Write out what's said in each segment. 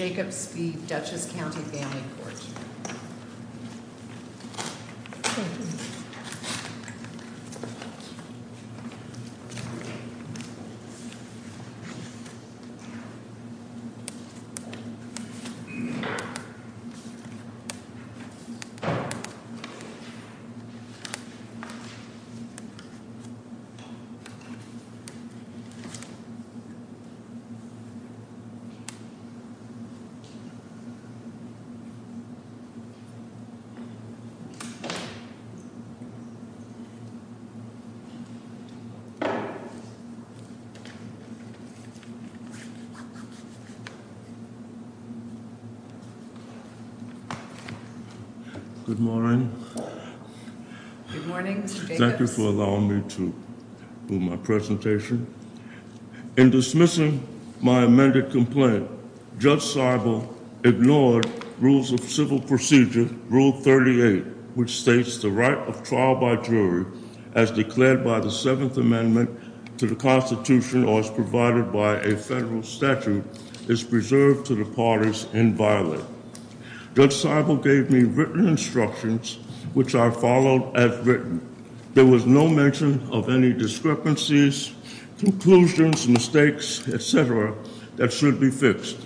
v. Dutchess County Family Court. Good morning. Thank you for allowing me to do my presentation. In dismissing my amended complaint, Judge Seibel ignored Rules of Civil Procedure, Rule 38, which states the right of trial by jury as declared by the Seventh Amendment to the Constitution or as provided by a federal statute is preserved to the parties inviolate. Judge Seibel gave me written instructions, which I followed as written. There was no mention of any discrepancies, conclusions, mistakes, etc., that should be fixed.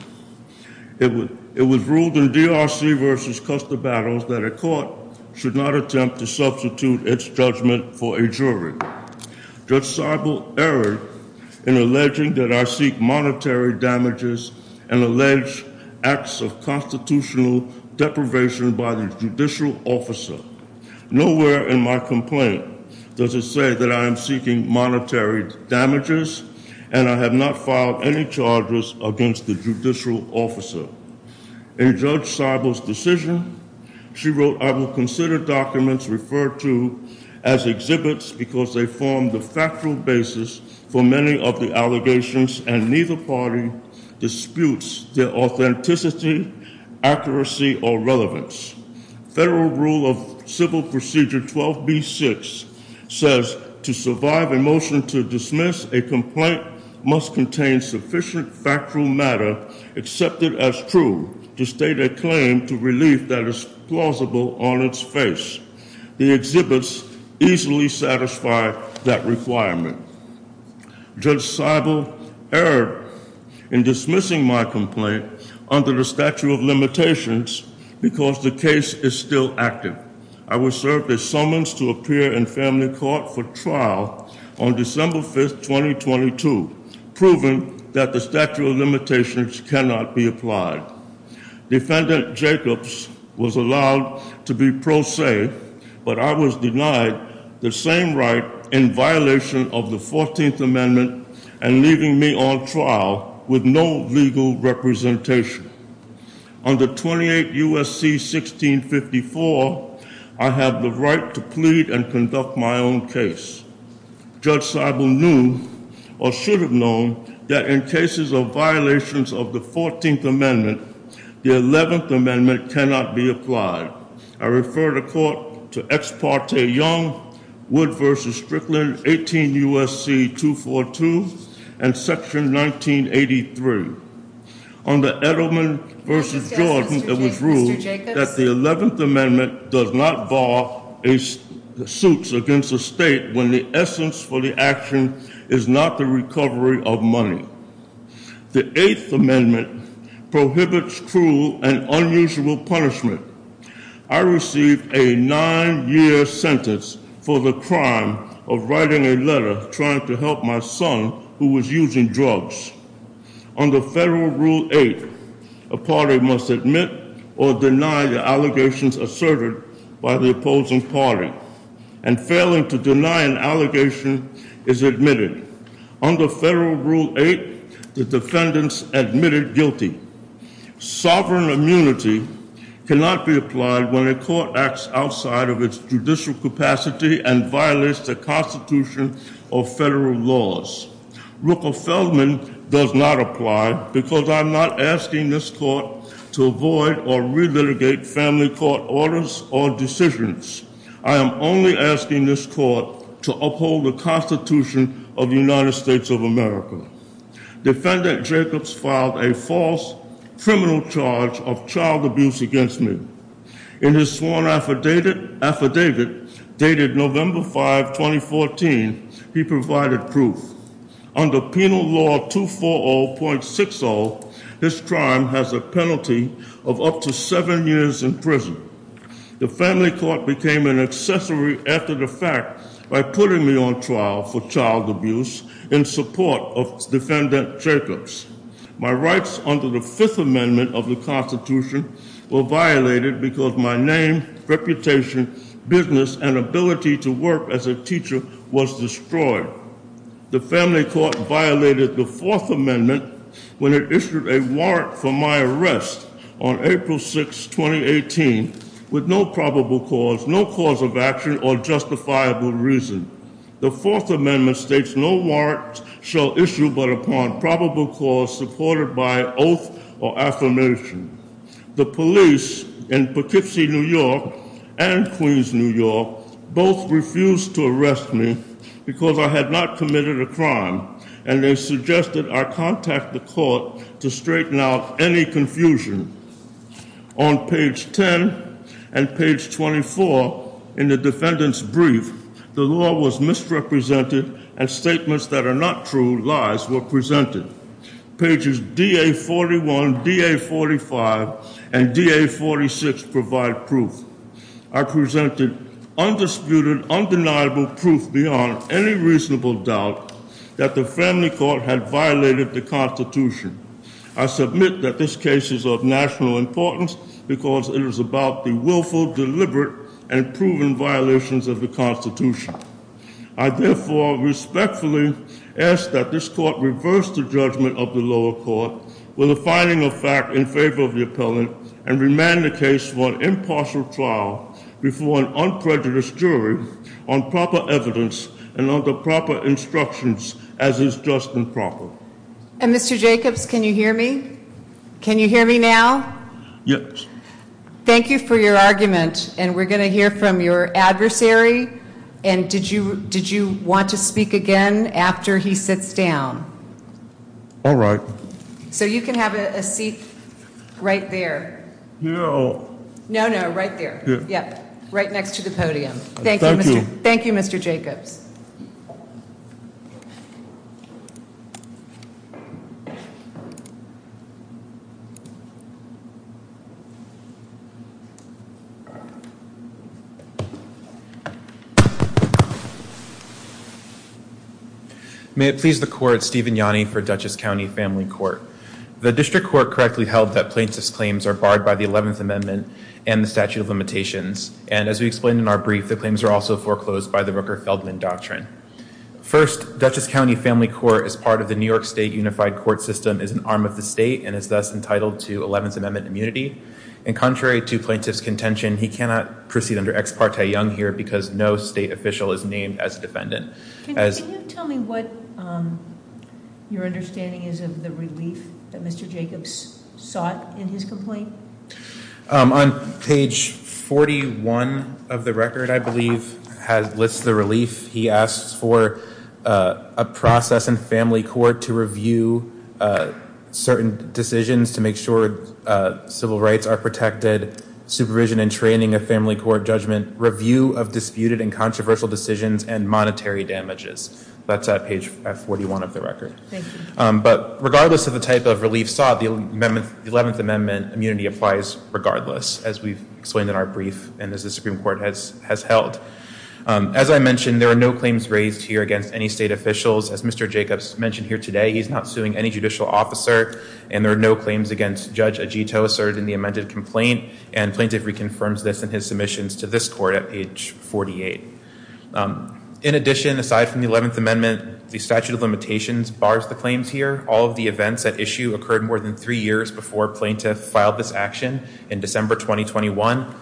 It was ruled in DRC v. Custer Battles that a court should not attempt to substitute its judgment for a jury. Judge Seibel erred in alleging that I seek monetary damages and allege acts of constitutional deprivation by the judicial officer. Nowhere in my complaint does it say that I am seeking monetary damages, and I have not filed any charges against the judicial officer. In Judge Seibel's decision, she wrote, I will consider documents referred to as exhibits because they form the factual basis for many of the allegations, and neither party disputes their authenticity, accuracy, or relevance. Federal Rule of Civil Procedure 12b-6 says to survive a motion to dismiss, a complaint must contain sufficient factual matter accepted as true to state a claim to relief that is plausible on its face. The exhibits easily satisfy that requirement. Judge Seibel erred in dismissing my complaint under the statute of limitations because the case is still active. I was served a summons to appear in family court for trial on December 5, 2022, proving that the statute of limitations cannot be applied. Defendant Jacobs was allowed to be pro se, but I was denied the same right in violation of the 14th Amendment and leaving me on trial with no legal representation. Under 28 U.S.C. 1654, I have the right to plead and conduct my own case. Judge Seibel knew, or should have known, that in cases of violations of the 14th Amendment, the 11th Amendment cannot be applied. I refer the court to Ex Parte Young, Wood v. Strickland, 18 U.S.C. 242, and Section 1983. Under Edelman v. Jordan, it was ruled that the 11th Amendment does not bar suits against a state when the essence for the action is not the recovery of money. The 8th Amendment prohibits cruel and unusual punishment. I received a nine-year sentence for the crime of writing a letter trying to help my son who was using drugs. Under Federal Rule 8, a party must admit or deny the allegations asserted by the opposing party, and failing to deny an allegation is admitted. Under Federal Rule 8, the defendants admitted guilty. Sovereign immunity cannot be applied when a court acts outside of its judicial capacity and violates the Constitution or federal laws. Ruckelsfeldman does not apply because I am not asking this court to avoid or relitigate family court orders or decisions. I am only asking this court to uphold the Constitution of the United States of America. Defendant Jacobs filed a false criminal charge of child abuse against me. In his sworn affidavit dated November 5, 2014, he provided proof. Under Penal Law 240.60, his crime has a penalty of up to seven years in prison. The family court became an accessory after the fact by putting me on trial for child abuse in support of Defendant Jacobs. My rights under the Fifth Amendment of the Constitution were violated because my name, reputation, business, and ability to work as a teacher was destroyed. The family court violated the Fourth Amendment when it issued a warrant for my arrest on April 6, 2018, with no probable cause, no cause of action, or justifiable reason. The Fourth Amendment states no warrant shall issue but upon probable cause supported by oath or affirmation. The police in Poughkeepsie, New York and Queens, New York both refused to arrest me because I had not committed a crime. And they suggested I contact the court to straighten out any confusion. On page 10 and page 24 in the defendant's brief, the law was misrepresented and statements that are not true, lies, were presented. Pages DA41, DA45, and DA46 provide proof. I presented undisputed, undeniable proof beyond any reasonable doubt that the family court had violated the Constitution. I submit that this case is of national importance because it is about the willful, deliberate, and proven violations of the Constitution. I therefore respectfully ask that this court reverse the judgment of the lower court with a finding of fact in favor of the appellant, and remand the case for an impartial trial before an unprejudiced jury on proper evidence and under proper instructions as is just and proper. And Mr. Jacobs, can you hear me? Can you hear me now? Yes. Thank you for your argument, and we're going to hear from your adversary. And did you want to speak again after he sits down? All right. So you can have a seat right there. No. No, no, right there. Yeah. Right next to the podium. Thank you. Thank you, Mr. Jacobs. Thank you. May it please the court, Stephen Yanni for Dutchess County Family Court. The district court correctly held that plaintiff's claims are barred by the 11th Amendment and the statute of limitations, and as we explained in our brief, the claims are also foreclosed by the Rooker-Feldman Doctrine. First, Dutchess County Family Court, as part of the New York State Unified Court System, is an arm of the state and is thus entitled to 11th Amendment immunity. And contrary to plaintiff's contention, he cannot proceed under ex parte young here because no state official is named as a defendant. Can you tell me what your understanding is of the relief that Mr. Jacobs sought in his complaint? On page 41 of the record, I believe, lists the relief. He asks for a process in family court to review certain decisions to make sure civil rights are protected, supervision and training of family court judgment, review of disputed and controversial decisions, and monetary damages. That's at page 41 of the record. Thank you. But regardless of the type of relief sought, the 11th Amendment immunity applies regardless, as we've explained in our brief and as the Supreme Court has held. As I mentioned, there are no claims raised here against any state officials. As Mr. Jacobs mentioned here today, he's not suing any judicial officer, and there are no claims against Judge Agito asserted in the amended complaint, and plaintiff reconfirms this in his submissions to this court at page 48. In addition, aside from the 11th Amendment, the statute of limitations bars the claims here. All of the events at issue occurred more than three years before plaintiff filed this action in December 2021.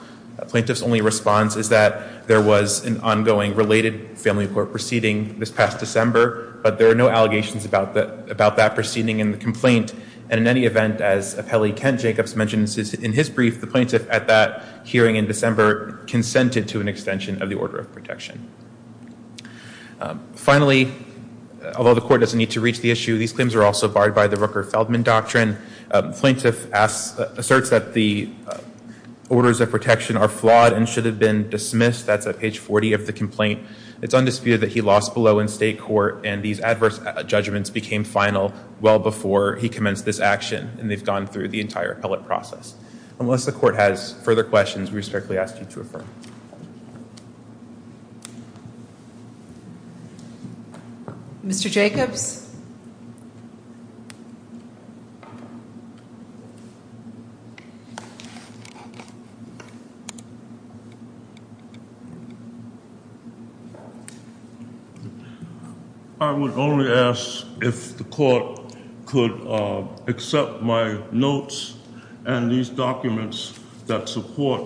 Plaintiff's only response is that there was an ongoing related family court proceeding this past December, but there are no allegations about that proceeding in the complaint. And in any event, as appellee Kent Jacobs mentions in his brief, the plaintiff at that hearing in December consented to an extension of the order of protection. Finally, although the court doesn't need to reach the issue, these claims are also barred by the Rooker-Feldman Doctrine. Plaintiff asserts that the orders of protection are flawed and should have been dismissed. That's at page 40 of the complaint. It's undisputed that he lost below in state court, and these adverse judgments became final well before he commenced this action, and they've gone through the entire appellate process. Unless the court has further questions, we respectfully ask you to refer. I would only ask if the court could accept my notes and these documents that support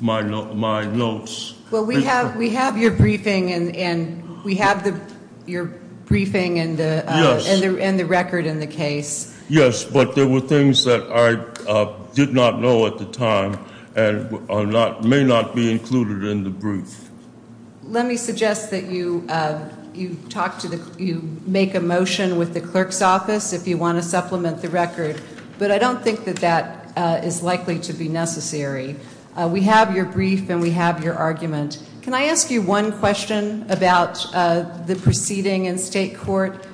my notes. We have your briefing and the record in the case. Yes, but there were things that I did not know at the time and may not be included in the brief. Let me suggest that you make a motion with the clerk's office if you want to supplement the record, but I don't think that that is likely to be necessary. We have your brief and we have your argument. Can I ask you one question about the proceeding in state court?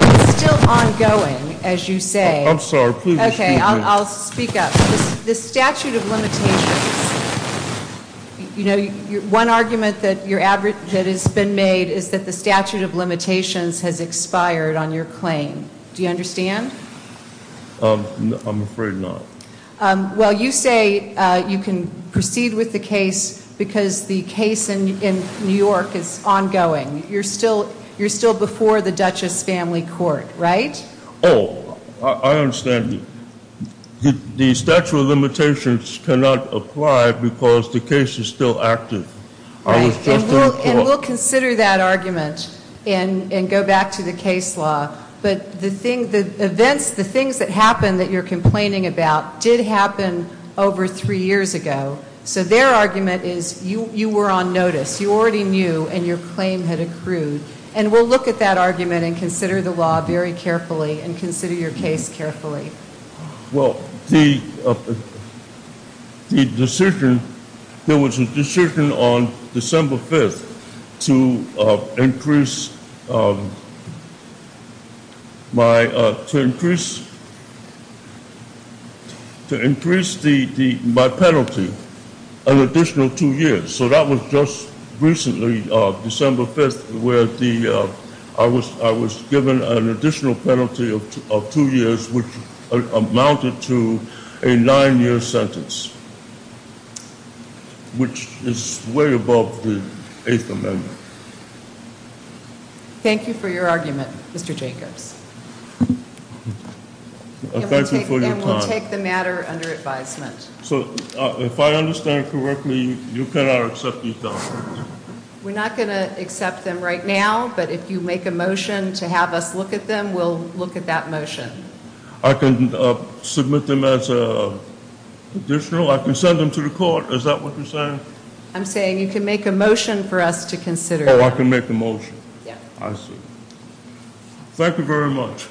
It's still ongoing, as you say. I'm sorry. Please speak up. Okay, I'll speak up. The statute of limitations, you know, one argument that has been made is that the statute of limitations has expired on your claim. Do you understand? I'm afraid not. Well, you say you can proceed with the case because the case in New York is ongoing. You're still before the Duchess family court, right? Oh, I understand. The statute of limitations cannot apply because the case is still active. And we'll consider that argument and go back to the case law. But the things that happened that you're complaining about did happen over three years ago. So their argument is you were on notice, you already knew, and your claim had accrued. And we'll look at that argument and consider the law very carefully and consider your case carefully. Well, the decision, there was a decision on December 5th to increase my penalty an additional two years. So that was just recently, December 5th, where I was given an additional penalty of two years, which amounted to a nine-year sentence, which is way above the Eighth Amendment. Thank you for your argument, Mr. Jacobs. And we'll take the matter under advisement. So if I understand correctly, you cannot accept these documents? We're not going to accept them right now, but if you make a motion to have us look at them, we'll look at that motion. I can submit them as additional? I can send them to the court? Is that what you're saying? I'm saying you can make a motion for us to consider them. Oh, I can make a motion. I see. Thank you very much.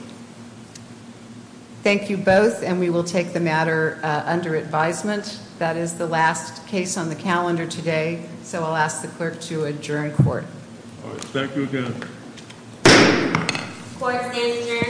Thank you both, and we will take the matter under advisement. That is the last case on the calendar today, so I'll ask the clerk to adjourn court. Thank you again. Court is adjourned.